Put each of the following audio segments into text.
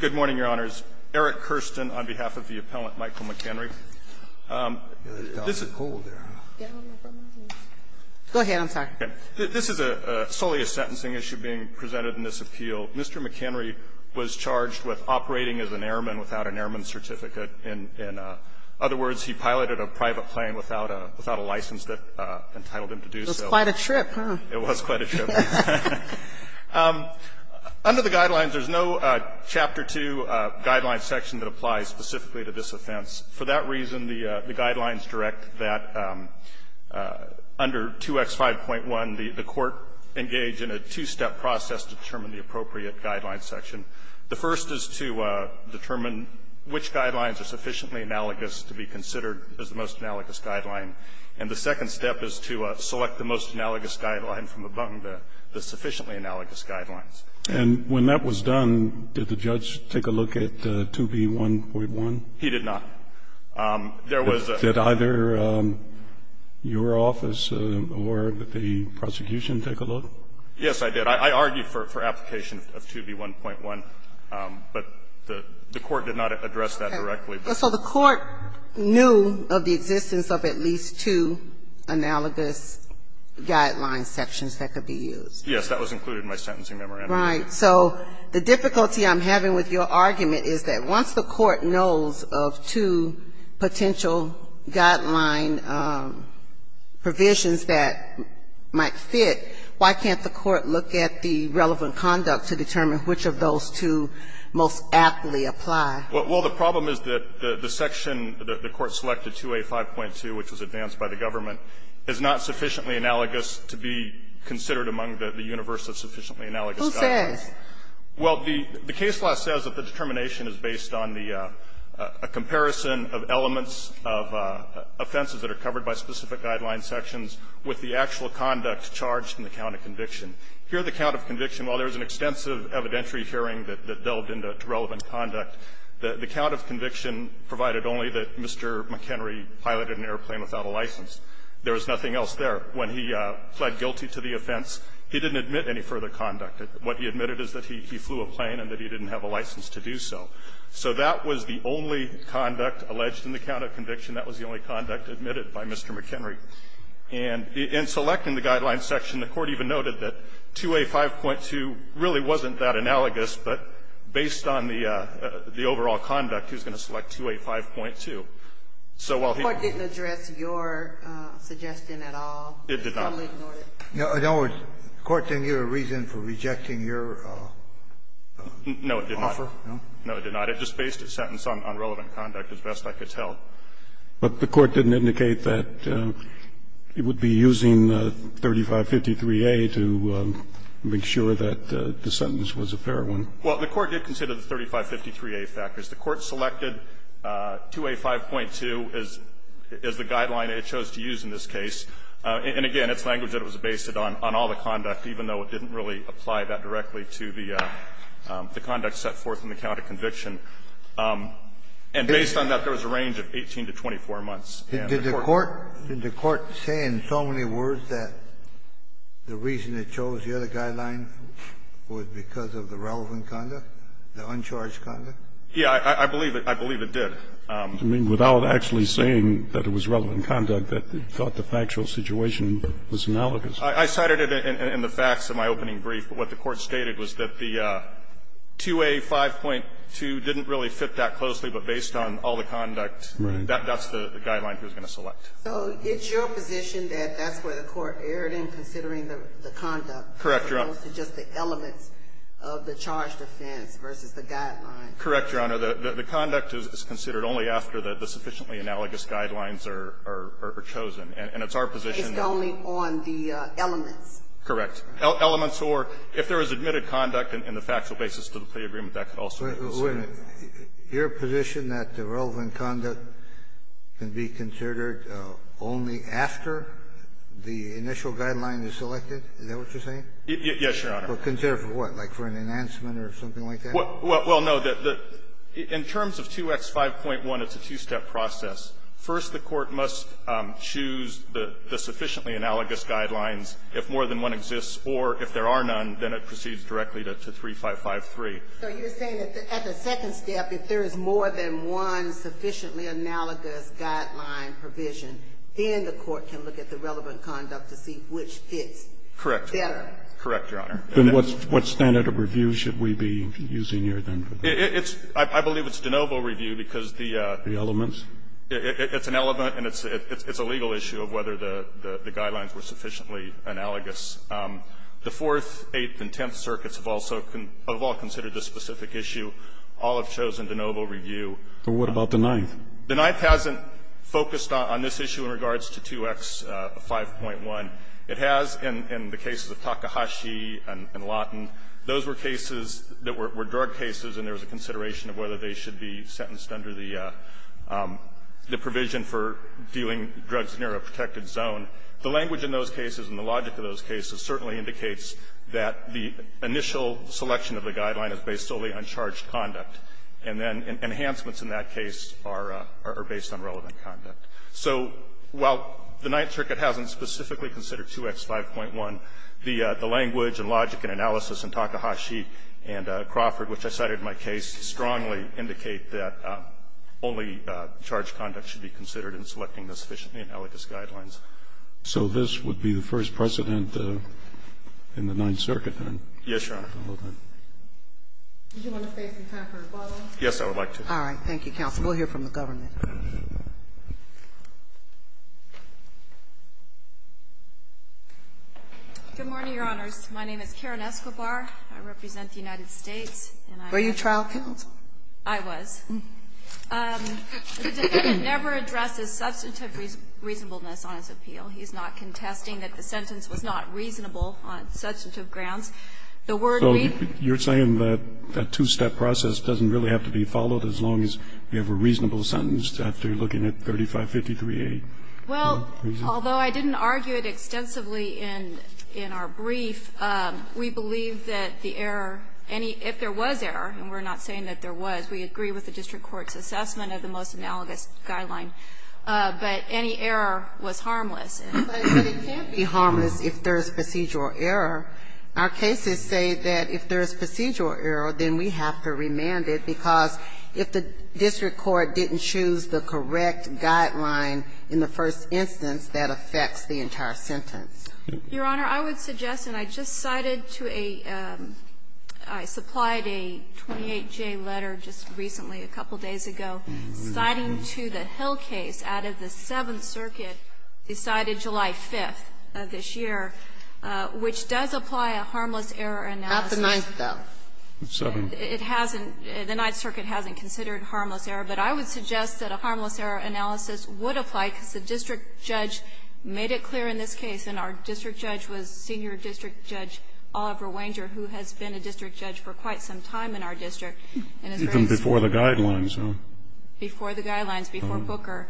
Good morning, Your Honors. Eric Kirsten on behalf of the appellant Michael McEnry. This is a solely a sentencing issue being presented in this appeal. Mr. McEnry was charged with operating as an airman without an airman certificate. In other words, he piloted a private plane without a license that entitled him to do so. It was quite a trip, huh? It was quite a trip. Under the Guidelines, there's no Chapter 2 Guidelines section that applies specifically to this offense. For that reason, the Guidelines direct that under 2X5.1, the court engage in a two-step process to determine the appropriate Guidelines section. The first is to determine which Guidelines are sufficiently analogous to be considered as the most analogous Guidelines from among the sufficiently analogous Guidelines. And when that was done, did the judge take a look at 2B1.1? He did not. Did either your office or the prosecution take a look? Yes, I did. I argued for application of 2B1.1, but the court did not address that directly. So the court knew of the existence of at least two analogous Guidelines sections that could be used? Yes, that was included in my sentencing memorandum. Right. So the difficulty I'm having with your argument is that once the court knows of two potential Guideline provisions that might fit, why can't the court look at the relevant conduct to determine which of those two most aptly apply? Well, the problem is that the section that the court selected, 2A5.2, which was advanced by the government, is not sufficiently analogous to be considered among the universe of sufficiently analogous Guidelines. Well, the case law says that the determination is based on the comparison of elements of offenses that are covered by specific Guidelines sections with the actual conduct charged in the count of conviction. Here, the count of conviction, while there is an The count of conviction provided only that Mr. McHenry piloted an airplane without a license. There was nothing else there. When he pled guilty to the offense, he didn't admit any further conduct. What he admitted is that he flew a plane and that he didn't have a license to do so. So that was the only conduct alleged in the count of conviction. That was the only conduct admitted by Mr. McHenry. And in selecting the Guidelines section, the court even noted that 2A5.2 really wasn't that analogous, but based on the overall conduct, he was going to select 2A5.2. So while he The court didn't address your suggestion at all? It did not. It was totally ignored. The court didn't give a reason for rejecting your offer? No, it did not. It just based its sentence on relevant conduct, as best I could tell. But the court didn't indicate that it would be using 3553A to make sure that the sentence was a fair one. Well, the court did consider the 3553A factors. The court selected 2A5.2 as the guideline it chose to use in this case. And again, its language that it was based on all the conduct, even though it didn't really apply that directly to the conduct set forth in the count of conviction. And based on that, there was a range of 18 to 24 months. And the court Did the court say in so many words that the reason it chose the other guideline was because of the relevant conduct, the uncharged conduct? Yeah. I believe it did. I mean, without actually saying that it was relevant conduct, that it thought the factual situation was analogous. I cited it in the facts in my opening brief. But what the court stated was that the 2A5.2 didn't really fit that closely, but based on all the conduct, that's the guideline he was going to select. So it's your position that that's where the court erred in considering the conduct Correct, Your Honor. As opposed to just the elements of the charged offense versus the guideline. Correct, Your Honor. The conduct is considered only after the sufficiently analogous guidelines are chosen. And it's our position that Based only on the elements. Correct. Elements or if there was admitted conduct in the factual basis to the plea agreement, that could also be considered. Wait a minute. Your position that the relevant conduct can be considered only after the initial guideline is selected? Is that what you're saying? Yes, Your Honor. But consider for what? Like for an enhancement or something like that? Well, no. In terms of 2X5.1, it's a two-step process. First, the court must choose the sufficiently analogous guidelines if more than one exists, or if there are none, then it proceeds directly to 3553. So you're saying that at the second step, if there is more than one sufficiently analogous guideline provision, then the court can look at the relevant conduct to see which fits better? Correct. Correct, Your Honor. Then what standard of review should we be using here then? I believe it's de novo review because the elements. It's an element and it's a legal issue of whether the guidelines were sufficiently analogous. The Fourth, Eighth and Tenth Circuits have all considered this specific issue. All have chosen de novo review. But what about the Ninth? The Ninth hasn't focused on this issue in regards to 2X5.1. It has in the cases of Takahashi and Lawton. Those were cases that were drug cases and there was a consideration of whether they should be sentenced under the provision for dealing drugs near a protected zone. The language in those cases and the logic of those cases certainly indicates that the initial selection of the guideline is based solely on charged conduct. And then enhancements in that case are based on relevant conduct. So while the Ninth Circuit hasn't specifically considered 2X5.1, the language and logic and analysis in Takahashi and Crawford, which I cited in my case, strongly indicate that only charged conduct should be considered in selecting the sufficiently analogous guidelines. So this would be the first precedent in the Ninth Circuit, then? Yes, Your Honor. Do you want to stay some time for rebuttal? Yes, I would like to. All right. Thank you, counsel. We'll hear from the government. Good morning, Your Honors. My name is Karen Escobar. I represent the United States. Were you trial counsel? I was. The defendant never addresses substantive reasonableness on his appeal. He's not contesting that the sentence was not reasonable on substantive grounds. The word we've been using is not reasonable on substantive grounds. So you're saying that that two-step process doesn't really have to be followed as long as you have a reasonable sentence after looking at 3553A? Well, although I didn't argue it extensively in our brief, we believe that the error any – if there was error, and we're not saying that there was, we agree with the district court's assessment of the most analogous guideline, but any error was harmless. But it can't be harmless if there is procedural error. Our cases say that if there is procedural error, then we have to remand it, because if the district court didn't choose the correct guideline in the first instance, that affects the entire sentence. Your Honor, I would suggest, and I just cited to a – I supplied a 28J letter just recently, a couple days ago, citing to the Hill case out of the Seventh Circuit, decided July 5th of this year, which does apply a harmless error analysis. Not the Ninth, though. The Seventh. It hasn't – the Ninth Circuit hasn't considered harmless error. But I would suggest that a harmless error analysis would apply, because the district judge made it clear in this case, and our district judge was Senior District Judge Oliver Wanger, who has been a district judge for quite some time in our district. Even before the guidelines, huh? Before the guidelines, before Booker.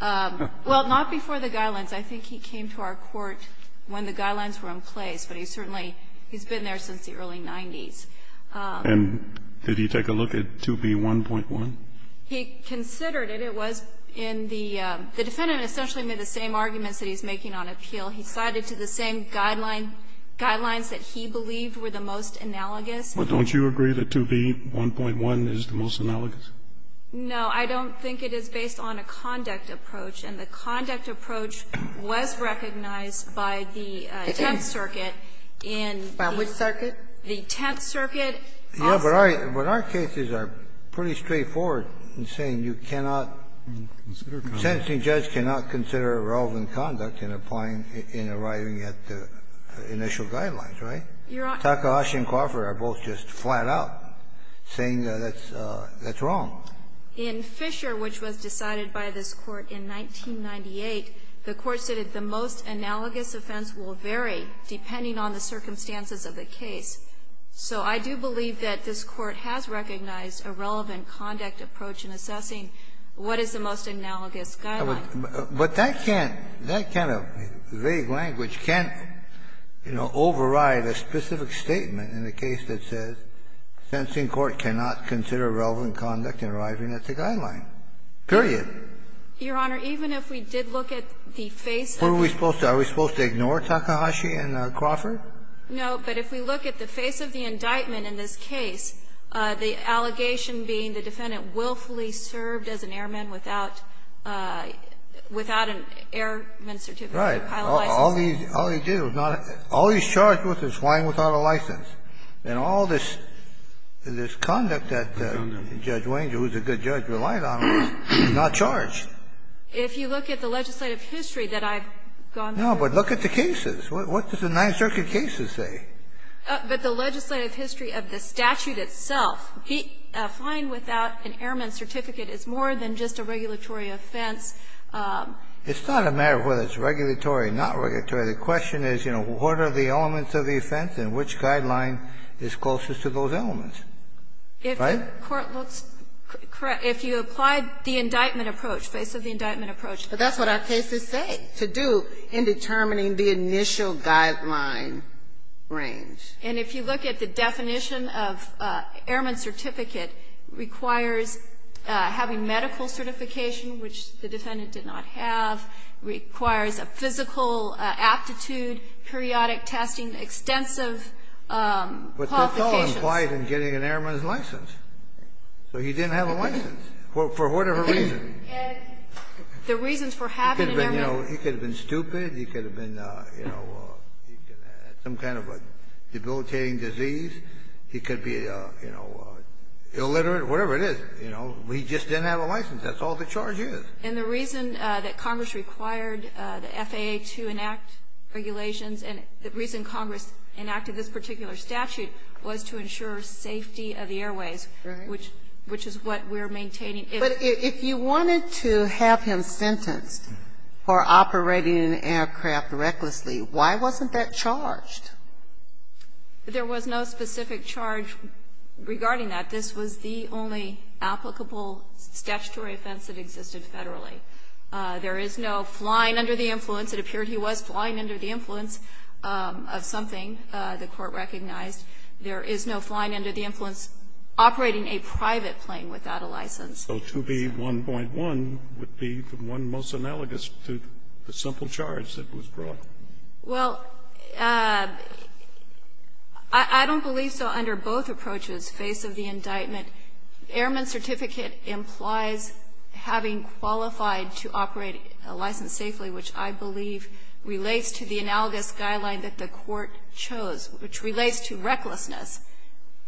Well, not before the guidelines. I think he came to our court when the guidelines were in place, but he certainly – he's been there since the early 90s. And did he take a look at 2B1.1? He considered it. It was in the – the defendant essentially made the same arguments that he's making on appeal. He cited to the same guidelines that he believed were the most analogous. But don't you agree that 2B1.1 is the most analogous? No, I don't think it is based on a conduct approach. And the conduct approach was recognized by the Tenth Circuit in the – By which circuit? The Tenth Circuit. Yeah, but our cases are pretty straightforward in saying you cannot – the sentencing judge cannot consider irrelevant conduct in applying – in arriving at the initial guidelines, right? Takahashi and Crawford are both just flat-out saying that that's wrong. In Fisher, which was decided by this Court in 1998, the Court said that the most analogous offense will vary depending on the circumstances of the case. So I do believe that this Court has recognized a relevant conduct approach in assessing what is the most analogous guideline. But that can't – that kind of vague language can't, you know, override a specific statement in the case that says the sentencing court cannot consider irrelevant conduct in arriving at the guideline, period. Your Honor, even if we did look at the face of the – What are we supposed to – are we supposed to ignore Takahashi and Crawford? No, but if we look at the face of the indictment in this case, the allegation being the defendant willfully served as an airman without an airman certificate or pilot license. Right. All he did was not – all he's charged with is flying without a license. And all this conduct that Judge Wanger, who's a good judge, relied on, was not charged. If you look at the legislative history that I've gone through – No, but look at the cases. What does the Ninth Circuit cases say? But the legislative history of the statute itself, he – flying without an airman certificate is more than just a regulatory offense. The question is, you know, what are the elements of the offense and which guideline is closest to those elements? Right? If the court looks – if you applied the indictment approach, face of the indictment approach, that's what our cases say. To do in determining the initial guideline range. And if you look at the definition of airman certificate, requires having medical certification, which the defendant did not have. Requires a physical aptitude, periodic testing, extensive qualifications. But that's all implied in getting an airman's license. So he didn't have a license, for whatever reason. The reasons for having an airman's license. He could have been stupid. He could have been, you know, some kind of a debilitating disease. He could be, you know, illiterate, whatever it is. You know, he just didn't have a license. That's all the charge is. And the reason that Congress required the FAA to enact regulations, and the reason Congress enacted this particular statute was to ensure safety of the airways. Right. Which is what we're maintaining. But if you wanted to have him sentenced for operating an aircraft recklessly, why wasn't that charged? There was no specific charge regarding that. This was the only applicable statutory offense that existed federally. There is no flying under the influence. It appeared he was flying under the influence of something the Court recognized. There is no flying under the influence operating a private plane without a license. So to be 1.1 would be the one most analogous to the simple charge that was brought. Well, I don't believe so under both approaches, face of the indictment. Airman's certificate implies having qualified to operate a license safely, which I believe relates to the analogous guideline that the Court chose, which relates to recklessness,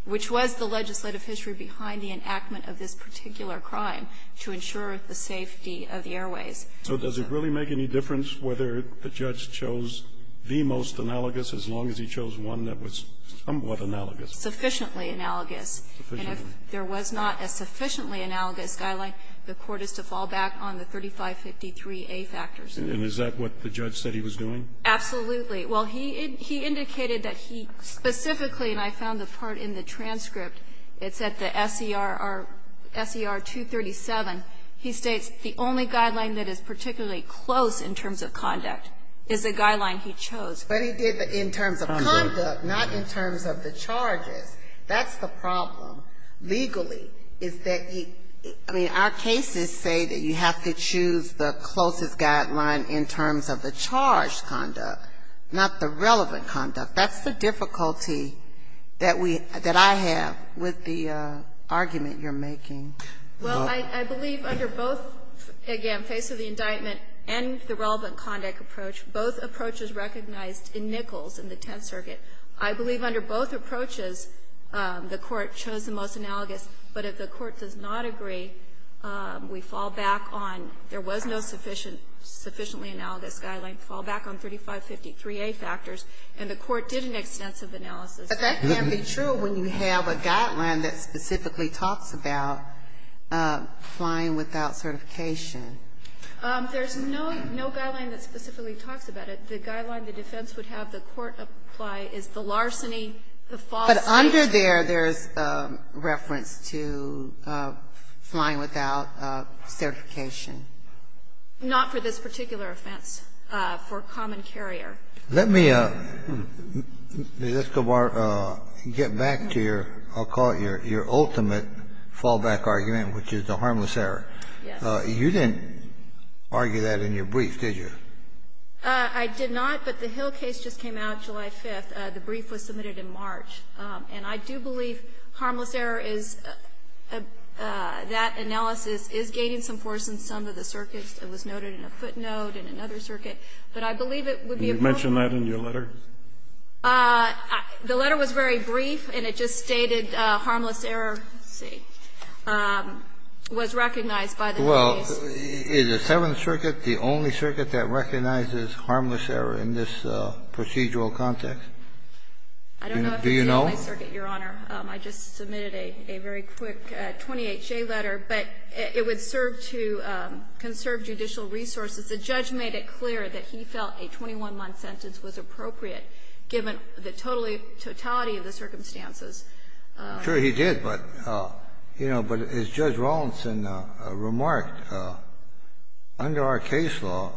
which was the legislative history behind the enactment of this particular crime to ensure the safety of the airways. So does it really make any difference whether the judge chose the most analogous as long as he chose one that was somewhat analogous? Sufficiently analogous. And if there was not a sufficiently analogous guideline, the Court is to fall back on the 3553A factors. And is that what the judge said he was doing? Absolutely. Well, he indicated that he specifically, and I found the part in the transcript, it's at the SER 237, he states the only guideline that is particularly close in terms of conduct is the guideline he chose. But he did it in terms of conduct, not in terms of the charges. That's the problem. Legally, is that he – I mean, our cases say that you have to choose the closest guideline in terms of the charged conduct, not the relevant conduct. That's the difficulty that we – that I have with the argument you're making. Well, I believe under both, again, face of the indictment and the relevant conduct approach, both approaches recognized in Nichols in the Tenth Circuit. I believe under both approaches, the Court chose the most analogous. But if the Court does not agree, we fall back on – there was no sufficiently analogous guideline to fall back on 3553A factors, and the Court did an extensive analysis. But that can't be true when you have a guideline that specifically talks about flying without certification. There's no – no guideline that specifically talks about it. The guideline the defense would have the court apply is the larceny, the false certification. But under there, there's reference to flying without certification. Not for this particular offense, for common carrier. Let me, Ms. Escobar, get back to your – I'll call it your ultimate fallback argument, which is the harmless error. Yes. You didn't argue that in your brief, did you? I did not, but the Hill case just came out July 5th. The brief was submitted in March. And I do believe harmless error is – that analysis is gaining some force in some of the circuits. It was noted in a footnote, in another circuit. But I believe it would be appropriate to – Did you mention that in your letter? The letter was very brief, and it just stated harmless error was recognized by the case. Well, is the Seventh Circuit the only circuit that recognizes harmless error in this procedural context? Do you know? I just submitted a very quick 20HA letter, but it would serve to conserve judicial resources. The judge made it clear that he felt a 21-month sentence was appropriate, given the totality of the circumstances. Sure, he did. But, you know, but as Judge Rawlinson remarked, under our case law,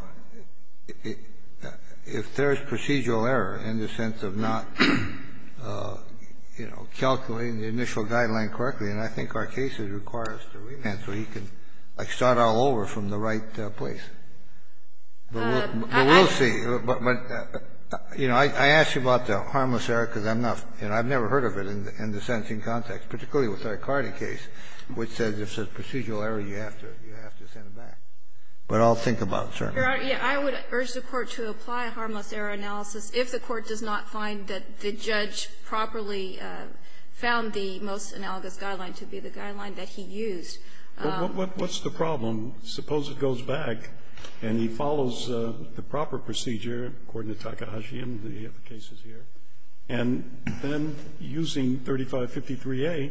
if there is procedural error in the sense of not, you know, calculating the initial guideline correctly, and I think our case requires a remand so he can, like, start all over from the right place. But we'll see. But, you know, I asked you about the harmless error because I'm not – and I've never heard of it in the sentencing context, particularly with the Ricardi case, which says if there's procedural error, you have to send it back. But I'll think about it, certainly. I would urge the Court to apply a harmless error analysis if the Court does not find that the judge properly found the most analogous guideline to be the guideline that he used. But what's the problem? Suppose it goes back and he follows the proper procedure, according to Takahashi and the other cases here, and then, using 3553A,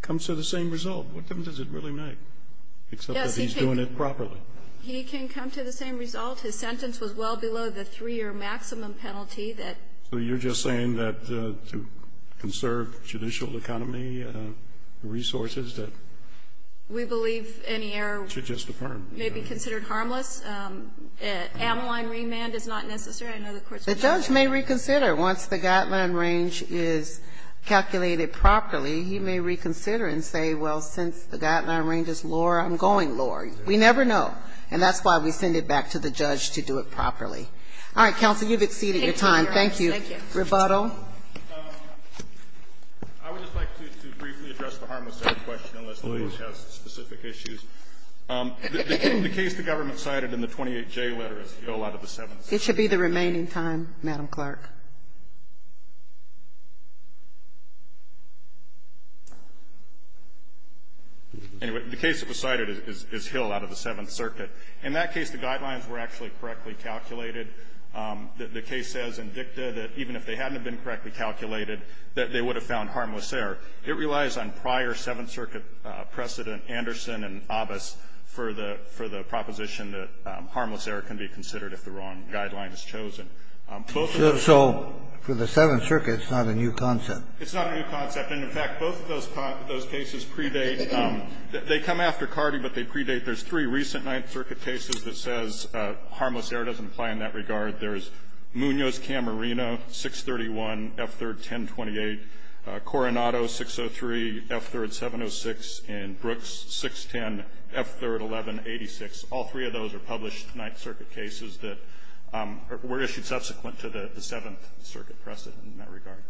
comes to the same result. What difference does it really make, except that he's doing it properly? He can come to the same result. His sentence was well below the 3-year maximum penalty that – So you're just saying that to conserve judicial economy resources that – We believe any error – Should just affirm. May be considered harmless. Amoline remand is not necessary. I know the Court's – The judge may reconsider. Once the guideline range is calculated properly, he may reconsider and say, well, since the guideline range is lower, I'm going lower. We never know. And that's why we send it back to the judge to do it properly. All right, counsel, you've exceeded your time. Thank you. Thank you. Rebuttal. I would just like to briefly address the harmless error question, unless the judge has specific issues. The case the government cited in the 28J letter is Hill out of the Seventh Circuit. It should be the remaining time, Madam Clerk. Anyway, the case that was cited is Hill out of the Seventh Circuit. In that case, the guidelines were actually correctly calculated. The case says in dicta that even if they hadn't have been correctly calculated, that they would have found harmless error. It relies on prior Seventh Circuit precedent, Anderson and Abbas, for the proposition that harmless error can be considered if the wrong guideline is chosen. So for the Seventh Circuit, it's not a new concept. It's not a new concept. And, in fact, both of those cases predate. They come after Cardi, but they predate. There's three recent Ninth Circuit cases that says harmless error doesn't apply in that regard. There's Munoz-Camarino, 631, F-3rd 1028, Coronado, 603, F-3rd 706, and Brooks, 610, F-3rd 1186. All three of those are published Ninth Circuit cases that were issued subsequent to the Seventh Circuit precedent in that regard.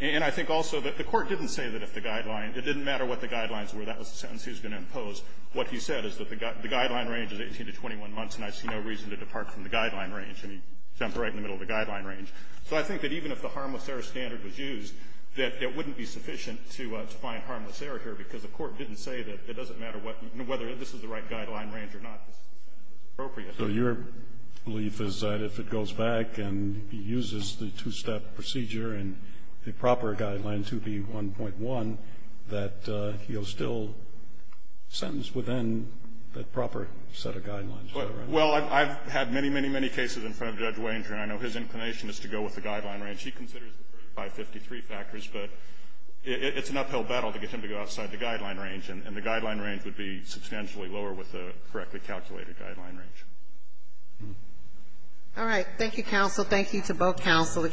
And I think also that the Court didn't say that if the guideline — it didn't matter what the guidelines were. That was the sentence he was going to impose. What he said is that the guideline range is 18 to 21 months, and I see no reason to depart from the guideline range. And he jumped right in the middle of the guideline range. So I think that even if the harmless error standard was used, that it wouldn't be sufficient to find harmless error here, because the Court didn't say that it doesn't matter what — whether this is the right guideline range or not. This is the sentence that's appropriate. So your belief is that if it goes back and he uses the two-step procedure and the proper guideline to be 1.1, that he'll still sentence within that proper set of guidelines? Well, I've had many, many, many cases in front of Judge Wainter, and I know his inclination is to go with the guideline range. He considers the first 553 factors, but it's an uphill battle to get him to go outside the guideline range. And the guideline range would be substantially lower with the correctly calculated guideline range. All right. Thank you, counsel. Thank you to both counsel.